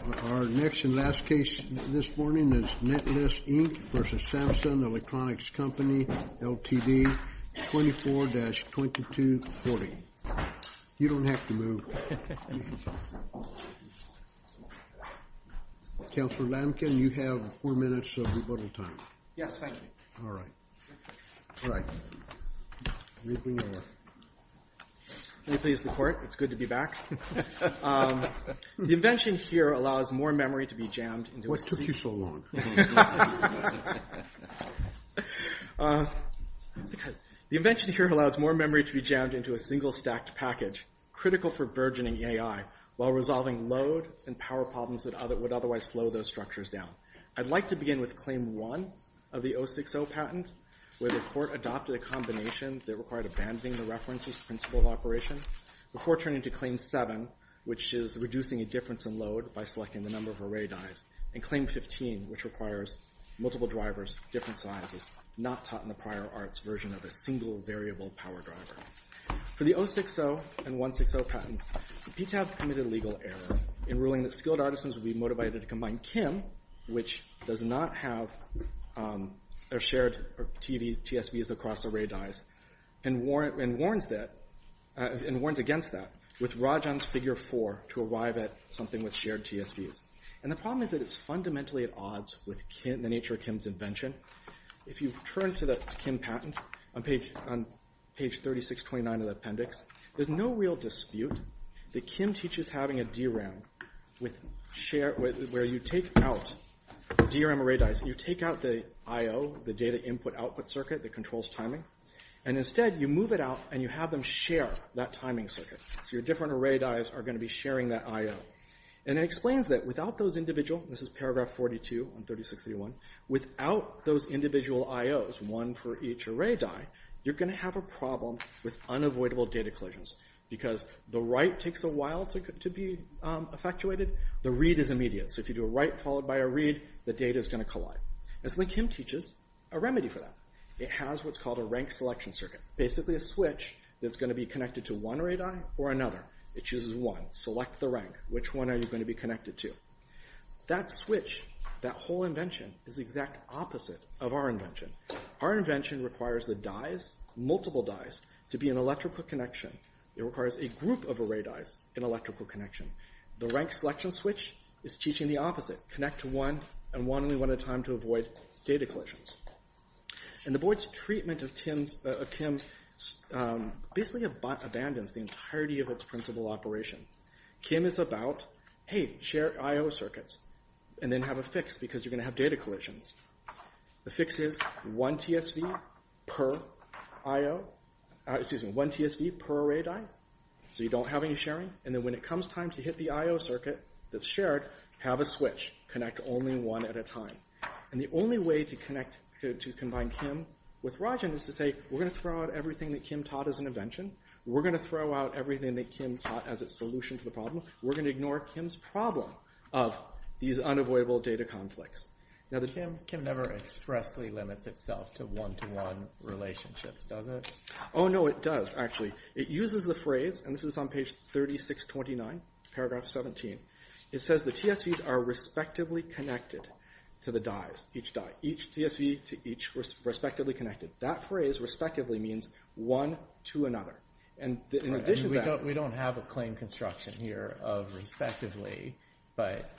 24-2240. You don't have to move. Councillor Lamkin, you have four minutes of rebuttal time. Yes, thank you. All right. May it please the Court, it's good to be back. The invention here is not a new invention. The invention here allows more memory to be jammed into a single stacked package, critical for burgeoning AI, while resolving load and power problems that would otherwise slow those structures down. I'd like to begin with Claim 1 of the 060 patent, where the Court adopted a combination that required abandoning the references principle of operation, before turning to Claim 7, which is reducing a difference in load by selecting the number of array dies, and Claim 15, which requires multiple drivers, different sizes, not taught in the prior arts version of a single variable power driver. For the 060 and 160 patents, the PTAB committed a legal error in ruling that skilled artisans would be motivated to combine KIM, which does not have shared TSVs across array dies, and warns against that with Rajan's Figure 4 to arrive at something with shared TSVs. And the problem is that it's fundamentally at odds with the nature of KIM's invention. If you turn to the KIM patent, on page 3629 of the appendix, there's no real dispute that KIM teaches having a DRAM, where you take out DRAM array dies, you take out the IO, the data input output circuit that controls timing, and instead you move it out and you have them share that timing circuit. So your different array dies are going to be sharing that IO. And it explains that without those individual, this is paragraph 42 on 3631, without those individual IOs, one for each array die, you're going to have a problem with unavoidable data collisions. Because the write takes a while to be effectuated, the read is immediate. So if you do a write followed by a read, the data is going to collide. And so the KIM teaches a remedy for that. It has what's called a rank selection circuit. Basically a switch that's going to be connected to one array die or another. It chooses one. Select the rank. Which one are you going to be connected to? That switch, that whole invention, is the exact opposite of our invention. Our invention requires the dies, multiple dies, to be an electrical connection. It requires a group of array dies, an electrical connection. The rank selection switch is teaching the opposite. Connect to one and one only one at a time to avoid data collisions. And the board's treatment of KIM basically abandons the entirety of its principle operation. KIM is about, hey, share IO circuits. And then have a fix because you're going to have data collisions. The fix is one TSV per array die. So you don't have any sharing. And then when it comes time to hit the IO circuit that's shared, have a switch. Connect only one at a time. And the only way to combine KIM with Rajan is to say, we're going to throw out everything that KIM taught as an invention. We're going to throw out everything that KIM taught as a solution to the problem. We're going to ignore KIM's problem of these unavoidable data conflicts. Now, the KIM never expressly limits itself to one-to-one relationships, does it? Oh, no, it does, actually. It uses the phrase, and this is on page 3629, paragraph 17. It says the TSVs are respectively connected to the dies, each die. Each TSV to each respectively connected. That phrase, respectively, means one to another. And in addition to that— We don't have a claim construction here of respectively. But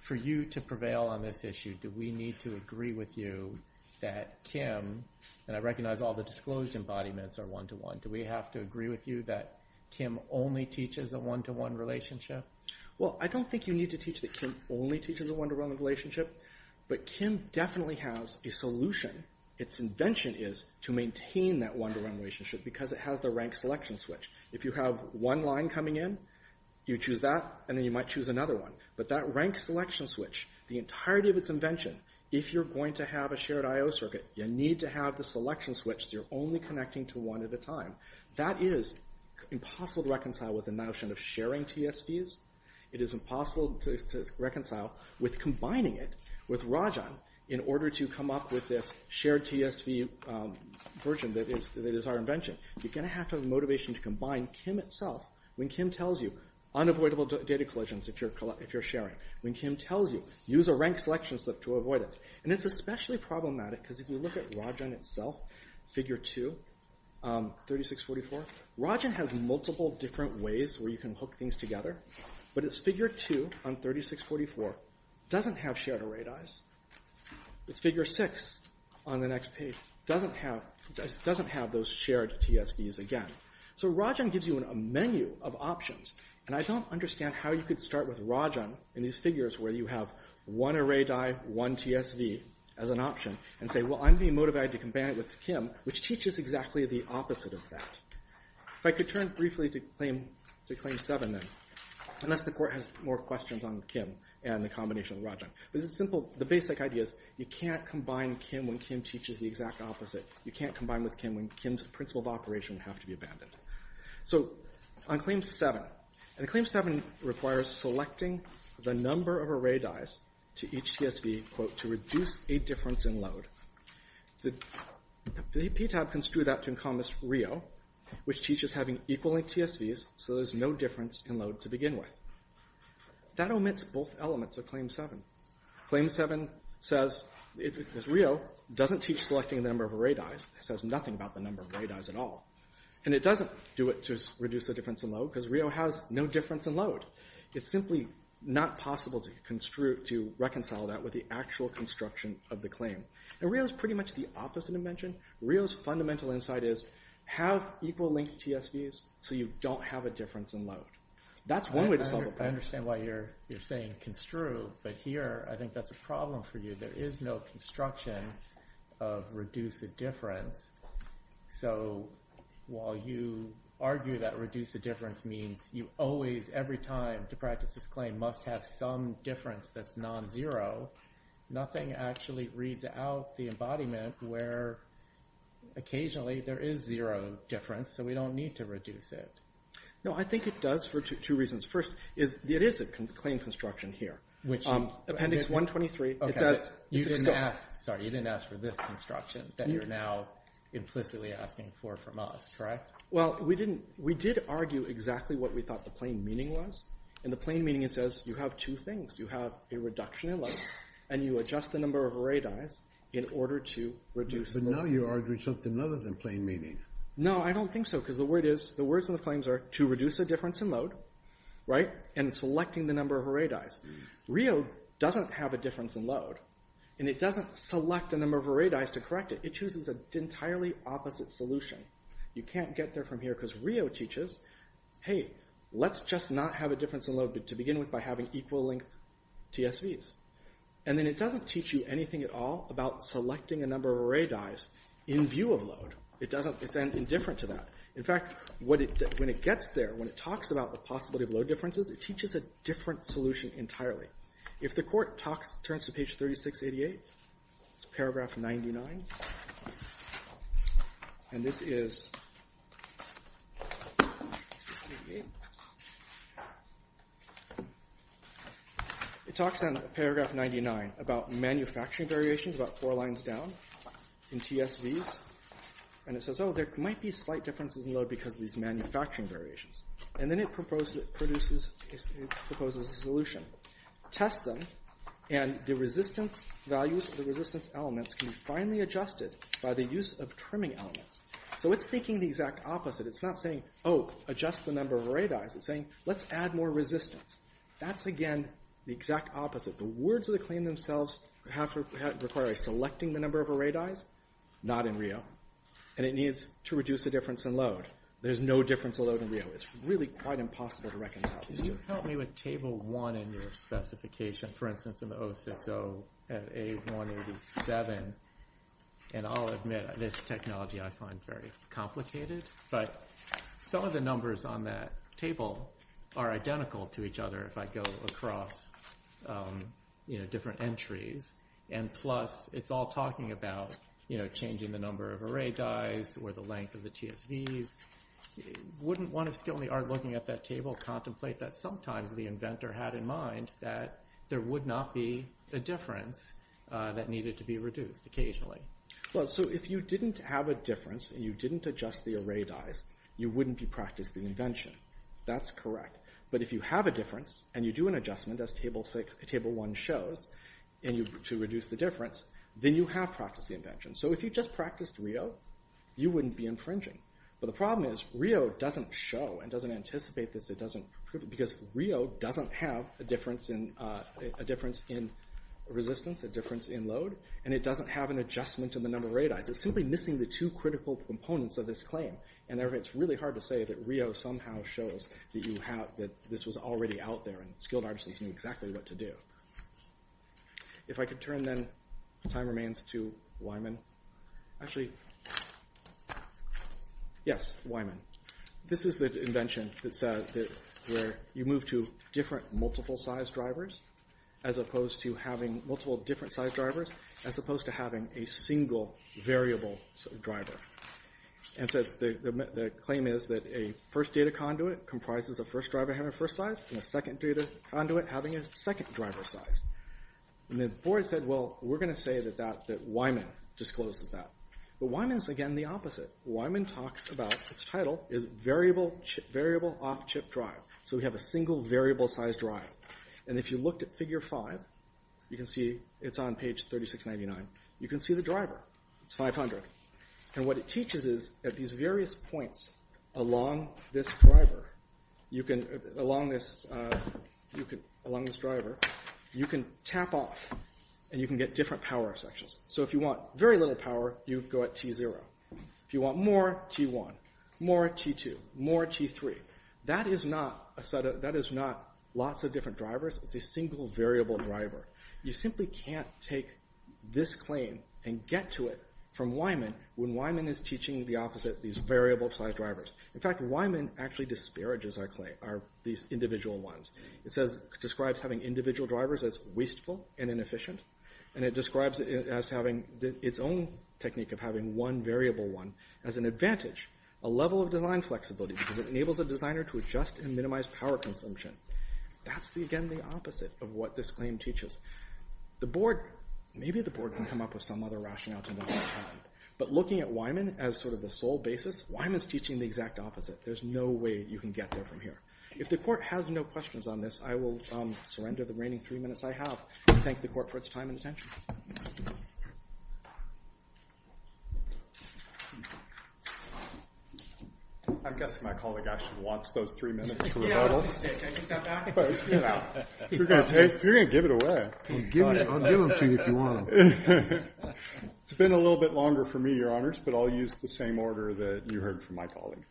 for you to prevail on this issue, do we need to agree with you that KIM, and I recognize all the disclosed embodiments are one-to-one, do we have to agree with you that KIM only teaches a one-to-one relationship? Well, I don't think you need to teach that KIM only teaches a one-to-one relationship. But KIM definitely has a solution. Its invention is to maintain that one-to-one relationship because it has the rank selection switch. If you have one line coming in, you choose that, and then you might choose another one. But that rank selection switch, the entirety of its invention, if you're going to have a shared I.O. circuit, you need to have the selection switch so you're only connecting to one at a time. That is impossible to reconcile with the notion of sharing TSVs. It is impossible to reconcile with combining it with Rajan in order to come up with this shared TSV version that is our invention. You're going to have to have the motivation to combine KIM itself. When KIM tells you, unavoidable data collisions if you're sharing. When KIM tells you, use a rank selection slip to avoid it. And it's especially problematic because if you look at Rajan itself, figure 2, 3644, Rajan has multiple different ways where you can hook things together. But its figure 2 on 3644 doesn't have shared arrayed I.Os. Its figure 6 on the next page doesn't have those shared TSVs again. So Rajan gives you a menu of options. And I don't understand how you could start with Rajan in these figures where you have one arrayed I, one TSV as an option, and say, well, I'm being motivated to combine it with KIM, which teaches exactly the opposite of that. If I could turn briefly to claim 7 then, unless the court has more questions on KIM and the combination of Rajan. But the basic idea is you can't combine KIM when KIM teaches the exact opposite. You can't combine with KIM when KIM's principle of operation have to be abandoned. So on claim 7, and claim 7 requires selecting the number of arrayed I.Os to each TSV, quote, to reduce a difference in load. The PTAB construed that to encompass Rio, which teaches having equal TSVs so there's no difference in load to begin with. That omits both elements of claim 7. Claim 7 says, Rio doesn't teach selecting the number of arrayed I.Os. It says nothing about the number of arrayed I.Os at all. And it doesn't do it to reduce the difference in load, because Rio has no difference in load. It's simply not possible to reconcile that with the actual construction of the claim. And Rio's pretty much the opposite dimension. Rio's fundamental insight is have equal linked TSVs so you don't have a difference in load. That's one way to solve a problem. I understand why you're saying construe, but here I think that's a problem for you. There is no construction of reduce a difference. So while you argue that reduce a difference means you always, every time to practice this claim, must have some difference that's non-zero, nothing actually reads out the embodiment where occasionally there is zero difference, so we don't need to reduce it. No, I think it does for two reasons. First, it is a claim construction here. Appendix 123. Sorry, you didn't ask for this construction that you're now implicitly asking for from us, correct? Well, we did argue exactly what we thought the plain meaning was. In the plain meaning it says you have two things. You have a reduction in load, and you adjust the number of arrayed IOs in order to reduce the load. But now you're arguing something other than plain meaning. No, I don't think so, because the words in the claims are to reduce a difference in load, and selecting the number of arrayed IOs. Rio doesn't have a difference in load, and it doesn't select a number of arrayed IOs to correct it. It chooses an entirely opposite solution. You can't get there from here, because Rio teaches, hey, let's just not have a difference in load to begin with by having equal length TSVs. And then it doesn't teach you anything at all about selecting a number of arrayed IOs in view of load. It's indifferent to that. In fact, when it gets there, when it talks about the possibility of load differences, it teaches a different solution entirely. If the court turns to page 3688, it's paragraph 99. And this is, it talks in paragraph 99 about manufacturing variations about four lines down in TSVs. And it says, oh, there might be slight differences in load because of these manufacturing variations. And then it proposes a solution. Test them, and the resistance values of the resistance elements can be finally adjusted by the use of trimming elements. So it's thinking the exact opposite. It's not saying, oh, adjust the number of arrayed IOs. It's saying, let's add more resistance. That's, again, the exact opposite. The words of the claim themselves require selecting the number of arrayed IOs. Not in Rio. And it needs to reduce the difference in load. There's no difference in load in Rio. It's really quite impossible to recognize. Can you help me with table one in your specification? For instance, in the 060 and A187. And I'll admit, this technology I find very complicated. But some of the numbers on that table are identical to each other if I go across different entries. And plus, it's all talking about changing the number of arrayed IOs or the length of the TSVs. Wouldn't one of skill in the art looking at that table contemplate that sometimes the inventor had in mind that there would not be a difference that needed to be reduced occasionally? Well, so if you didn't have a difference and you didn't adjust the arrayed IOs, you wouldn't be practicing the invention. That's correct. But if you have a difference and you do an adjustment, as table one shows, to reduce the difference, then you have practiced the invention. So if you just practiced Rio, you wouldn't be infringing. But the problem is Rio doesn't show and doesn't anticipate this. Because Rio doesn't have a difference in resistance, a difference in load. And it doesn't have an adjustment in the number of arrayed IOs. It's simply missing the two critical components of this claim. And it's really hard to say that Rio somehow shows that this was already out there and skilled artisans knew exactly what to do. If I could turn, then, time remains to Wyman. Actually, yes, Wyman. This is the invention where you move to different multiple-size drivers as opposed to having multiple different-size drivers as opposed to having a single variable driver. And so the claim is that a first data conduit comprises a first driver having a first size and a second data conduit having a second driver size. And the board said, well, we're going to say that Wyman discloses that. But Wyman is, again, the opposite. Wyman talks about its title is variable off-chip drive. So we have a single variable-size drive. And if you looked at figure five, you can see it's on page 3699. You can see the driver. It's 500. And what it teaches is that these various points along this driver, you can tap off. And you can get different power sections. So if you want very little power, you go at T0. If you want more, T1, more T2, more T3. That is not lots of different drivers. It's a single variable driver. You simply can't take this claim and get to it from Wyman when Wyman is teaching the opposite, these variable-size drivers. In fact, Wyman actually disparages our claim, these individual ones. It describes having individual drivers as wasteful and inefficient. And it describes its own technique of having one variable one as an advantage, a level of design flexibility, because it enables a designer to adjust and minimize power consumption. That's, again, the opposite of what this claim teaches. The board, maybe the board can come up with some other rationale to know what happened. But looking at Wyman as sort of the sole basis, Wyman is teaching the exact opposite. There's no way you can get there from here. If the court has no questions on this, I will surrender the reigning three minutes I have and thank the court for its time and attention. I'm guessing my colleague actually wants those three minutes for rebuttal. You're going to give it away. I'll give them to you if you want them. It's been a little bit longer for me, Your Honors, but I'll use the same order that you heard from my colleague.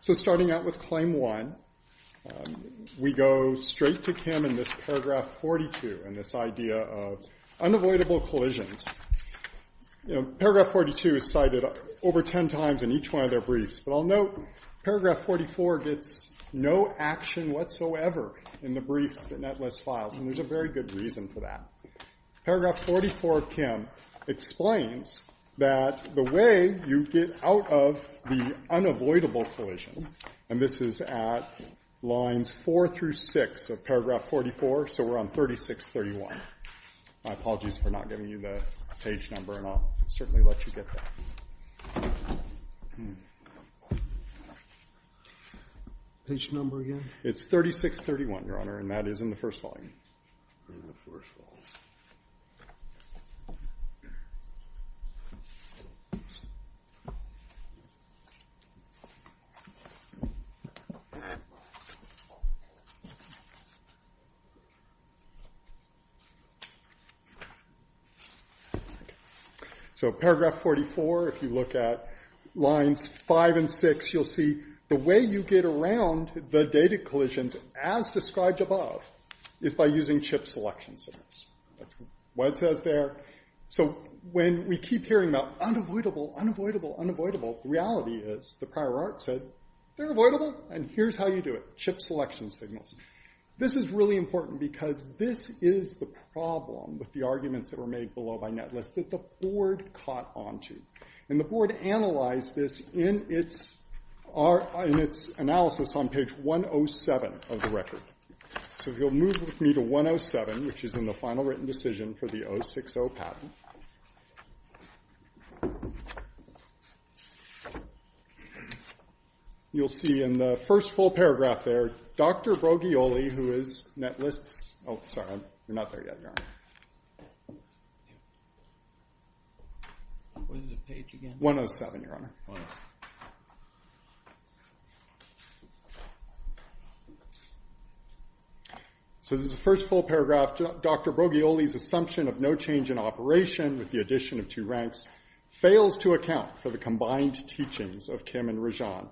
So starting out with Claim 1, we go straight to Kim in this Paragraph 42 and this idea of unavoidable collisions. Paragraph 42 is cited over 10 times in each one of their briefs. But I'll note Paragraph 44 gets no action whatsoever in the briefs that Netlist files, and there's a very good reason for that. Paragraph 44 of Kim explains that the way you get out of the unavoidable collision, and this is at lines 4 through 6 of Paragraph 44, so we're on 3631. My apologies for not giving you the page number, and I'll certainly let you get that. Page number again? It's 3631, Your Honor, and that is in the first volume. Paragraph 44, if you look at lines 5 and 6, you'll see the way you get around the data collisions, as described above, is by using chip selection signals. That's what it says there. So when we keep hearing about unavoidable, unavoidable, unavoidable, the reality is the prior art said they're avoidable, and here's how you do it, chip selection signals. This is really important because this is the problem with the arguments that were made below by Netlist that the board caught onto. And the board analyzed this in its analysis on page 107 of the record. So if you'll move with me to 107, which is in the final written decision for the 060 patent. You'll see in the first full paragraph there, Dr. Broglioli, who is Netlist's – oh, sorry, you're not there yet, Your Honor. What is the page again? 107, Your Honor. So this is the first full paragraph. Dr. Broglioli's assumption of no change in operation with the addition of two ranks fails to account for the combined teachings of Kim and Rajan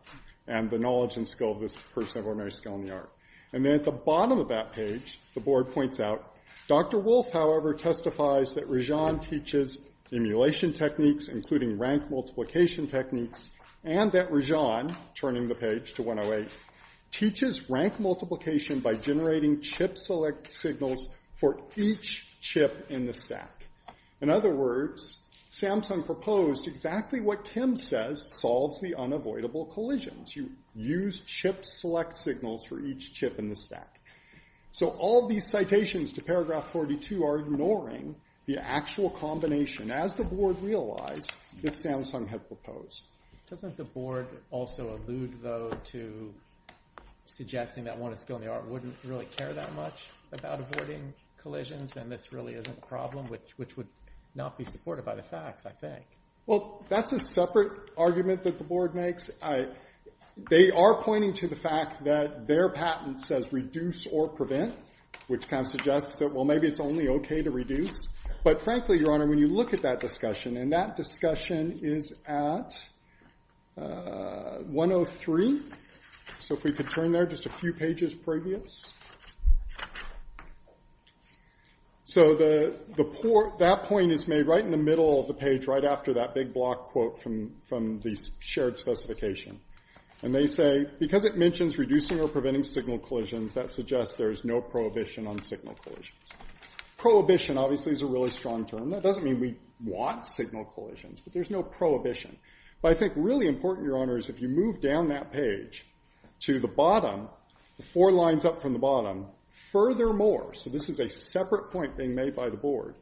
and the knowledge and skill of this person of ordinary skill in the art. And then at the bottom of that page, the board points out, Dr. Wolf, however, testifies that Rajan teaches emulation techniques, including rank multiplication techniques, and that Rajan, turning the page to 108, teaches rank multiplication by generating chip select signals for each chip in the stack. In other words, Samsung proposed exactly what Kim says solves the unavoidable collisions. You use chip select signals for each chip in the stack. So all these citations to paragraph 42 are ignoring the actual combination, as the board realized, that Samsung had proposed. Doesn't the board also allude, though, to suggesting that one of skill in the art wouldn't really care that much about avoiding collisions and this really isn't a problem, which would not be supported by the facts, I think. Well, that's a separate argument that the board makes. They are pointing to the fact that their patent says reduce or prevent, which kind of suggests that, well, maybe it's only OK to reduce. But frankly, Your Honor, when you look at that discussion, and that discussion is at 103. So if we could turn there just a few pages previous. So that point is made right in the middle of the page, right after that big block quote from the shared specification. And they say, because it mentions reducing or preventing signal collisions, that suggests there is no prohibition on signal collisions. Prohibition, obviously, is a really strong term. That doesn't mean we want signal collisions, but there's no prohibition. But I think really important, Your Honor, is if you move down that page to the bottom, the four lines up from the bottom, furthermore, so this is a separate point being made by the board,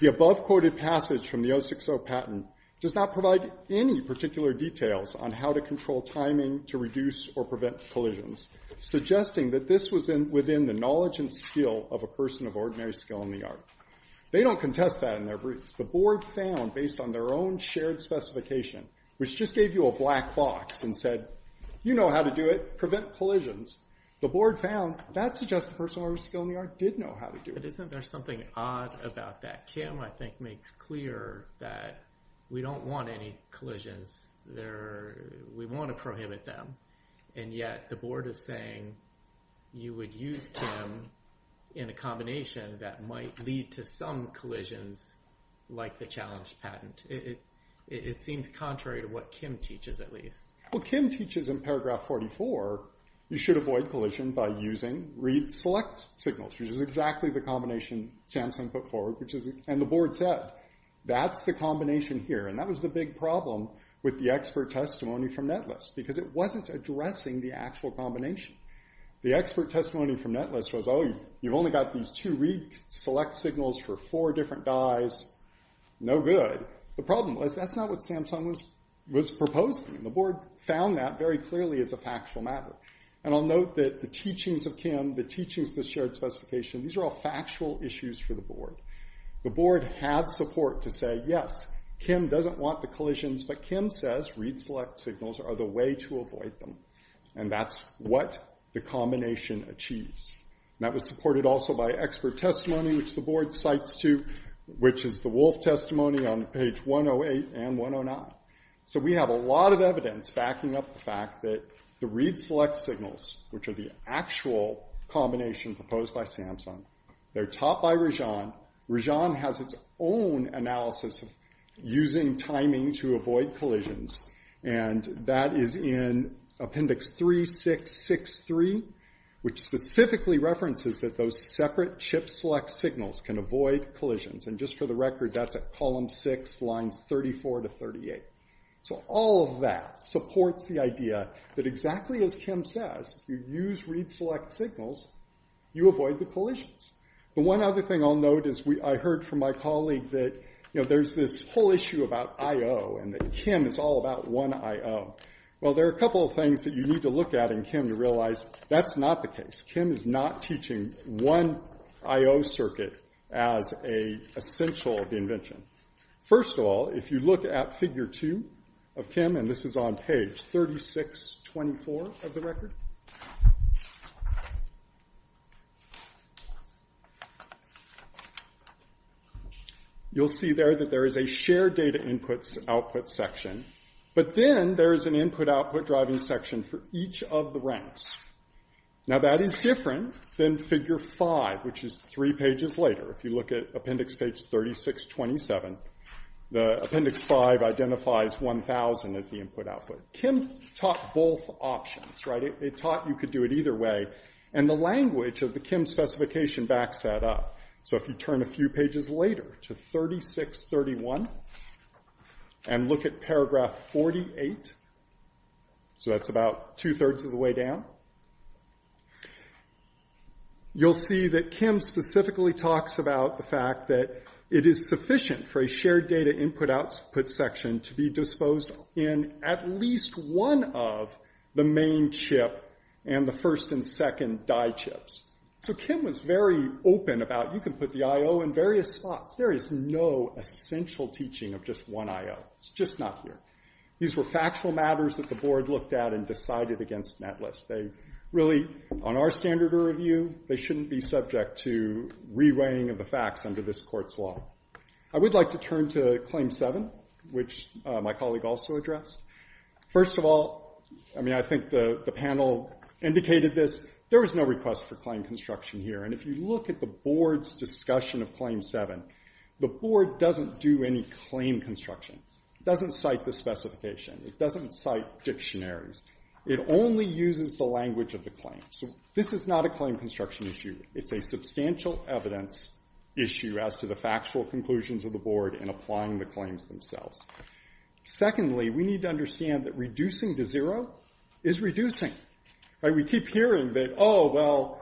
the above quoted passage from the 060 patent does not provide any particular details on how to control timing to reduce or prevent collisions, suggesting that this was within the knowledge and skill of a person of ordinary skill in the art. They don't contest that in their briefs. The board found, based on their own shared specification, which just gave you a black box and said, you know how to do it. Prevent collisions. The board found that suggested a person of ordinary skill in the art did know how to do it. But isn't there something odd about that? Kim, I think, makes clear that we don't want any collisions. We want to prohibit them. And yet the board is saying you would use them in a combination that might lead to some collisions like the challenge patent. It seems contrary to what Kim teaches, at least. Well, Kim teaches in paragraph 44. You should avoid collision by using read select signals, which is exactly the combination Samsung put forward, which is. And the board said that's the combination here. And that was the big problem with the expert testimony from Netlist, because it wasn't addressing the actual combination. The expert testimony from Netlist was, oh, you've only got these two read select signals for four different guys. No good. The problem was that's not what Samsung was proposing. The board found that very clearly as a factual matter. And I'll note that the teachings of Kim, the teachings of the shared specification, these are all factual issues for the board. The board had support to say, yes, Kim doesn't want the collisions, but Kim says read select signals are the way to avoid them. And that's what the combination achieves. And that was supported also by expert testimony, which the board cites too, which is the Wolf testimony on page 108 and 109. So we have a lot of evidence backing up the fact that the read select signals, which are the actual combination proposed by Samsung, they're taught by Rajan. Rajan has its own analysis of using timing to avoid collisions. And that is in appendix 3663, which specifically references that those separate chip select signals can avoid collisions. And just for the record, that's at column 6, lines 34 to 38. So all of that supports the idea that exactly as Kim says, if you use read select signals, you avoid the collisions. The one other thing I'll note is I heard from my colleague that there's this whole issue about I-O and that Kim is all about one I-O. Well, there are a couple of things that you need to look at in Kim to realize that's not the case. Kim is not teaching one I-O circuit as an essential of the invention. First of all, if you look at figure 2 of Kim, and this is on page 3624 of the record, you'll see there that there is a shared data inputs output section. But then there is an input output driving section for each of the ranks. Now, that is different than figure 5, which is three pages later. If you look at appendix page 3627, the appendix 5 identifies 1000 as the input output. Kim taught both options, right? It taught you could do it either way. And the language of the Kim specification backs that up. So if you turn a few pages later to 3631 and look at paragraph 48, so that's about two-thirds of the way down, you'll see that Kim specifically talks about the fact that it is sufficient for a shared data input output section to be disposed in at least one of the main chip and the first and second die chips. So Kim was very open about you can put the I-O in various spots. There is no essential teaching of just one I-O. It's just not here. These were factual matters that the board looked at and decided against netlist. They really, on our standard of review, they shouldn't be subject to re-weighing of the facts under this court's law. I would like to turn to claim 7, which my colleague also addressed. First of all, I mean, I think the panel indicated this. There was no request for claim construction here. And if you look at the board's discussion of claim 7, the board doesn't do any claim construction. It doesn't cite the specification. It doesn't cite dictionaries. It only uses the language of the claim. So this is not a claim construction issue. It's a substantial evidence issue as to the factual conclusions of the board in applying the claims themselves. Secondly, we need to understand that reducing to zero is reducing. We keep hearing that, oh, well,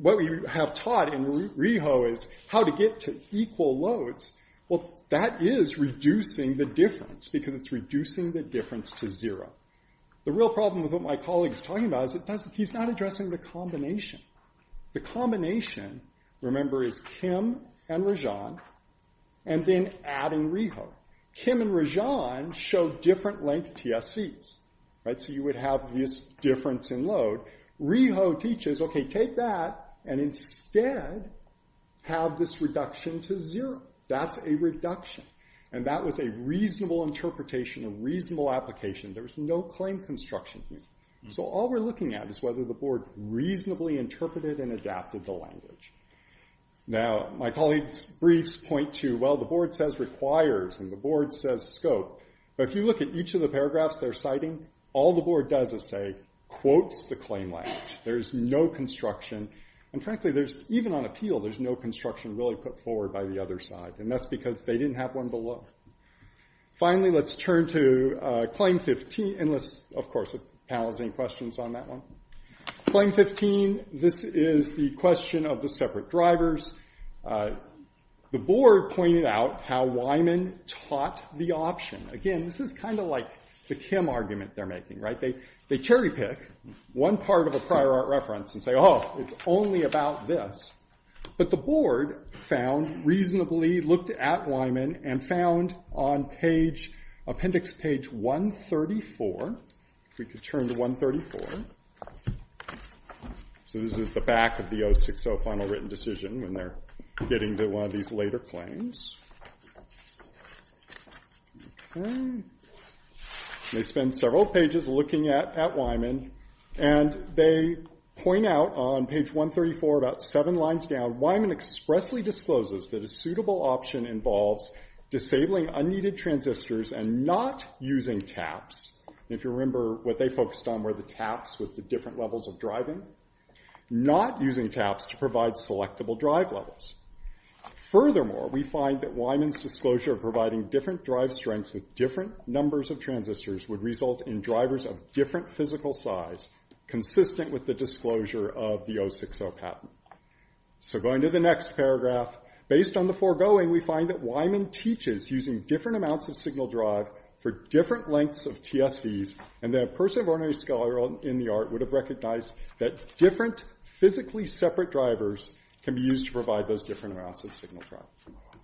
what we have taught in REHO is how to get to equal loads. Well, that is reducing the difference because it's reducing the difference to zero. The real problem with what my colleague is talking about is he's not addressing the combination. The combination, remember, is Kim and Rajan and then adding REHO. Kim and Rajan show different length TSVs. So you would have this difference in load. REHO teaches, okay, take that and instead have this reduction to zero. That's a reduction. And that was a reasonable interpretation, a reasonable application. There was no claim construction here. So all we're looking at is whether the board reasonably interpreted and adapted the language. Now, my colleague's briefs point to, well, the board says requires and the board says scope. But if you look at each of the paragraphs they're citing, all the board does is say quotes the claim language. There is no construction. And frankly, even on appeal, there's no construction really put forward by the other side. And that's because they didn't have one below. Finally, let's turn to Claim 15. And, of course, if the panel has any questions on that one. Claim 15, this is the question of the separate drivers. The board pointed out how Wyman taught the option. Again, this is kind of like the Kim argument they're making, right? They cherry pick one part of a prior art reference and say, oh, it's only about this. But the board found, reasonably looked at Wyman and found on appendix page 134. If we could turn to 134. So this is the back of the 060 Final Written Decision when they're getting to one of these later claims. They spend several pages looking at Wyman. And they point out on page 134, about seven lines down, Wyman expressly discloses that a suitable option involves disabling unneeded transistors and not using taps. If you remember what they focused on were the taps with the different levels of driving. Not using taps to provide selectable drive levels. Furthermore, we find that Wyman's disclosure of providing different drive strengths with different numbers of transistors would result in drivers of different physical size consistent with the disclosure of the 060 patent. So going to the next paragraph. Based on the foregoing, we find that Wyman teaches using different amounts of signal drive for different lengths of TSVs. And that a person of ordinary skill or in the art would have recognized that different physically separate drivers can be used to provide those different amounts of signal drive.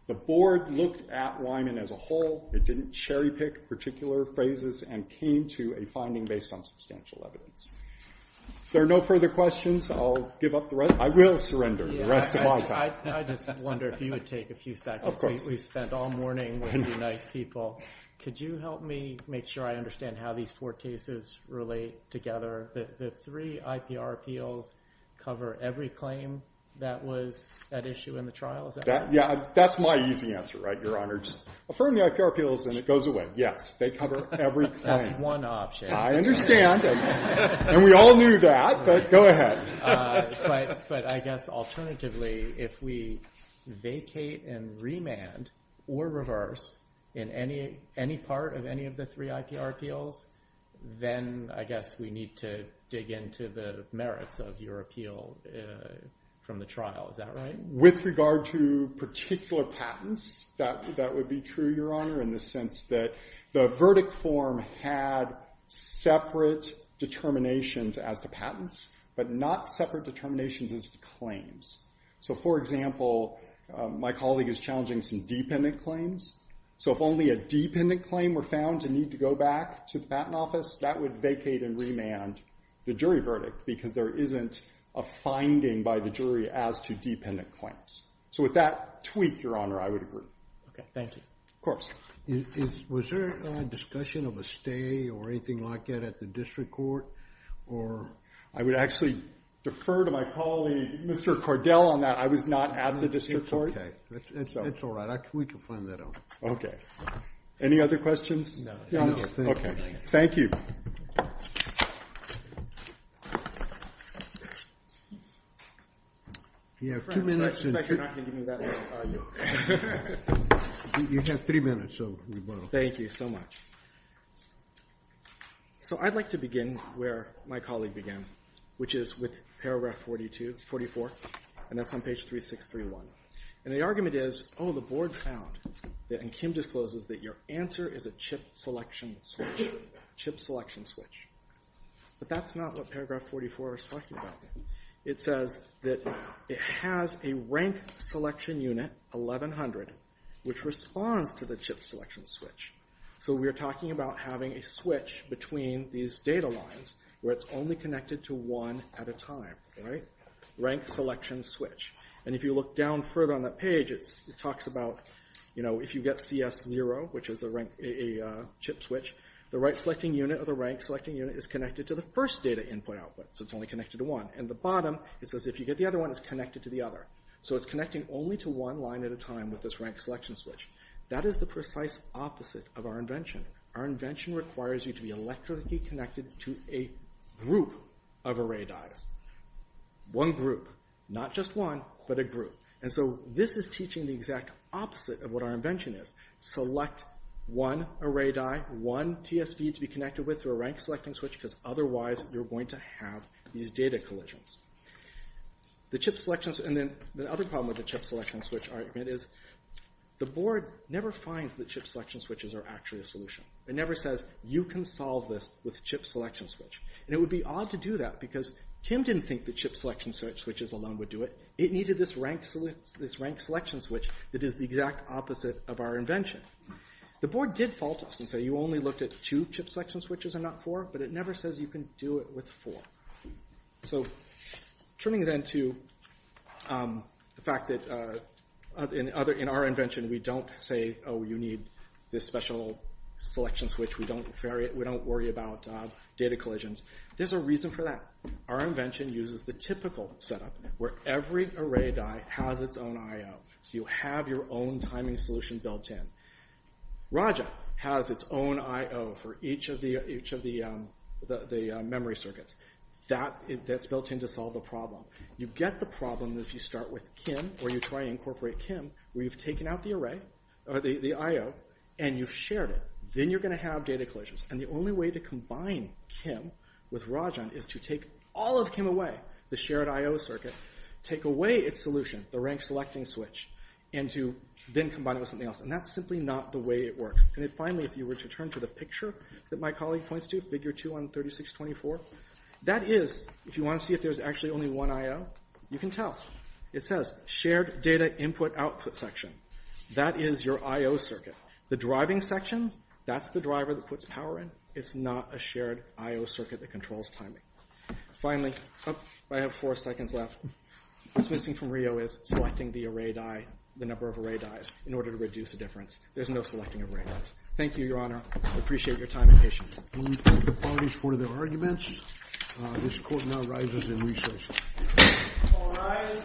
The board looked at Wyman as a whole. It didn't cherry pick particular phrases and came to a finding based on substantial evidence. If there are no further questions, I'll give up the rest. I will surrender the rest of my time. I just wonder if you would take a few seconds. Of course. We spent all morning with you nice people. Could you help me make sure I understand how these four cases relate together? The three IPR appeals cover every claim that was at issue in the trial, is that right? Yeah, that's my easy answer, right, Your Honor. Just affirm the IPR appeals and it goes away. Yes, they cover every claim. That's one option. I understand. And we all knew that, but go ahead. But I guess alternatively, if we vacate and remand or reverse in any part of any of the three IPR appeals, then I guess we need to dig into the merits of your appeal from the trial. Is that right? With regard to particular patents, that would be true, Your Honor, in the sense that the verdict form had separate determinations as to patents, but not separate determinations as to claims. So, for example, my colleague is challenging some dependent claims. So if only a dependent claim were found to need to go back to the patent office, that would vacate and remand the jury verdict because there isn't a finding by the jury as to dependent claims. So with that tweak, Your Honor, I would agree. Okay, thank you. Of course. Was there a discussion of a stay or anything like that at the district court? I would actually defer to my colleague, Mr. Cordell, on that. I was not at the district court. It's all right. We can find that out. Okay. Any other questions? No. Okay. Thank you. You have two minutes. I suspect you're not going to give me that much time. You have three minutes, so we will. Thank you so much. So I'd like to begin where my colleague began, which is with paragraph 44, and that's on page 3631. And the argument is, oh, the board found, and Kim discloses, that your answer is a chip selection switch. Chip selection switch. But that's not what paragraph 44 is talking about. It says that it has a rank selection unit, 1100, which responds to the chip selection switch. So we are talking about having a switch between these data lines where it's only connected to one at a time, right? Rank selection switch. And if you look down further on that page, it talks about, you know, if you get CS0, which is a chip switch, the right-selecting unit or the rank-selecting unit is connected to the first data input output. So it's only connected to one. And the bottom, it says if you get the other one, it's connected to the other. So it's connecting only to one line at a time with this rank selection switch. That is the precise opposite of our invention. Our invention requires you to be electrically connected to a group of array dyes. One group. Not just one, but a group. And so this is teaching the exact opposite of what our invention is. Select one array dye, one TSV to be connected with through a rank-selecting switch, because otherwise you're going to have these data collisions. The chip selection switch, and then the other problem with the chip selection switch argument is the board never finds that chip selection switches are actually a solution. It never says, you can solve this with chip selection switch. And it would be odd to do that because Kim didn't think the chip selection switches alone would do it. It needed this rank selection switch that is the exact opposite of our invention. The board did fault us and say you only looked at two chip selection switches and not four, but it never says you can do it with four. So turning then to the fact that in our invention we don't say, oh, you need this special selection switch. We don't worry about data collisions. There's a reason for that. Our invention uses the typical setup where every array dye has its own I.O. So you have your own timing solution built in. Raja has its own I.O. for each of the memory circuits. That's built in to solve the problem. You get the problem if you start with Kim, or you try to incorporate Kim, where you've taken out the I.O. and you've shared it. Then you're going to have data collisions. And the only way to combine Kim with Raja is to take all of Kim away, the shared I.O. circuit, take away its solution, the rank selecting switch, and to then combine it with something else. And that's simply not the way it works. And finally, if you were to turn to the picture that my colleague points to, figure 2 on 3624, that is, if you want to see if there's actually only one I.O., you can tell. It says shared data input output section. That is your I.O. circuit. The driving section, that's the driver that puts power in. It's not a shared I.O. circuit that controls timing. Finally, I have four seconds left. What's missing from Rio is selecting the array die, the number of array dies, in order to reduce the difference. There's no selecting of array dies. Thank you, Your Honor. I appreciate your time and patience. We thank the parties for their arguments. This court now rises in recess. All rise.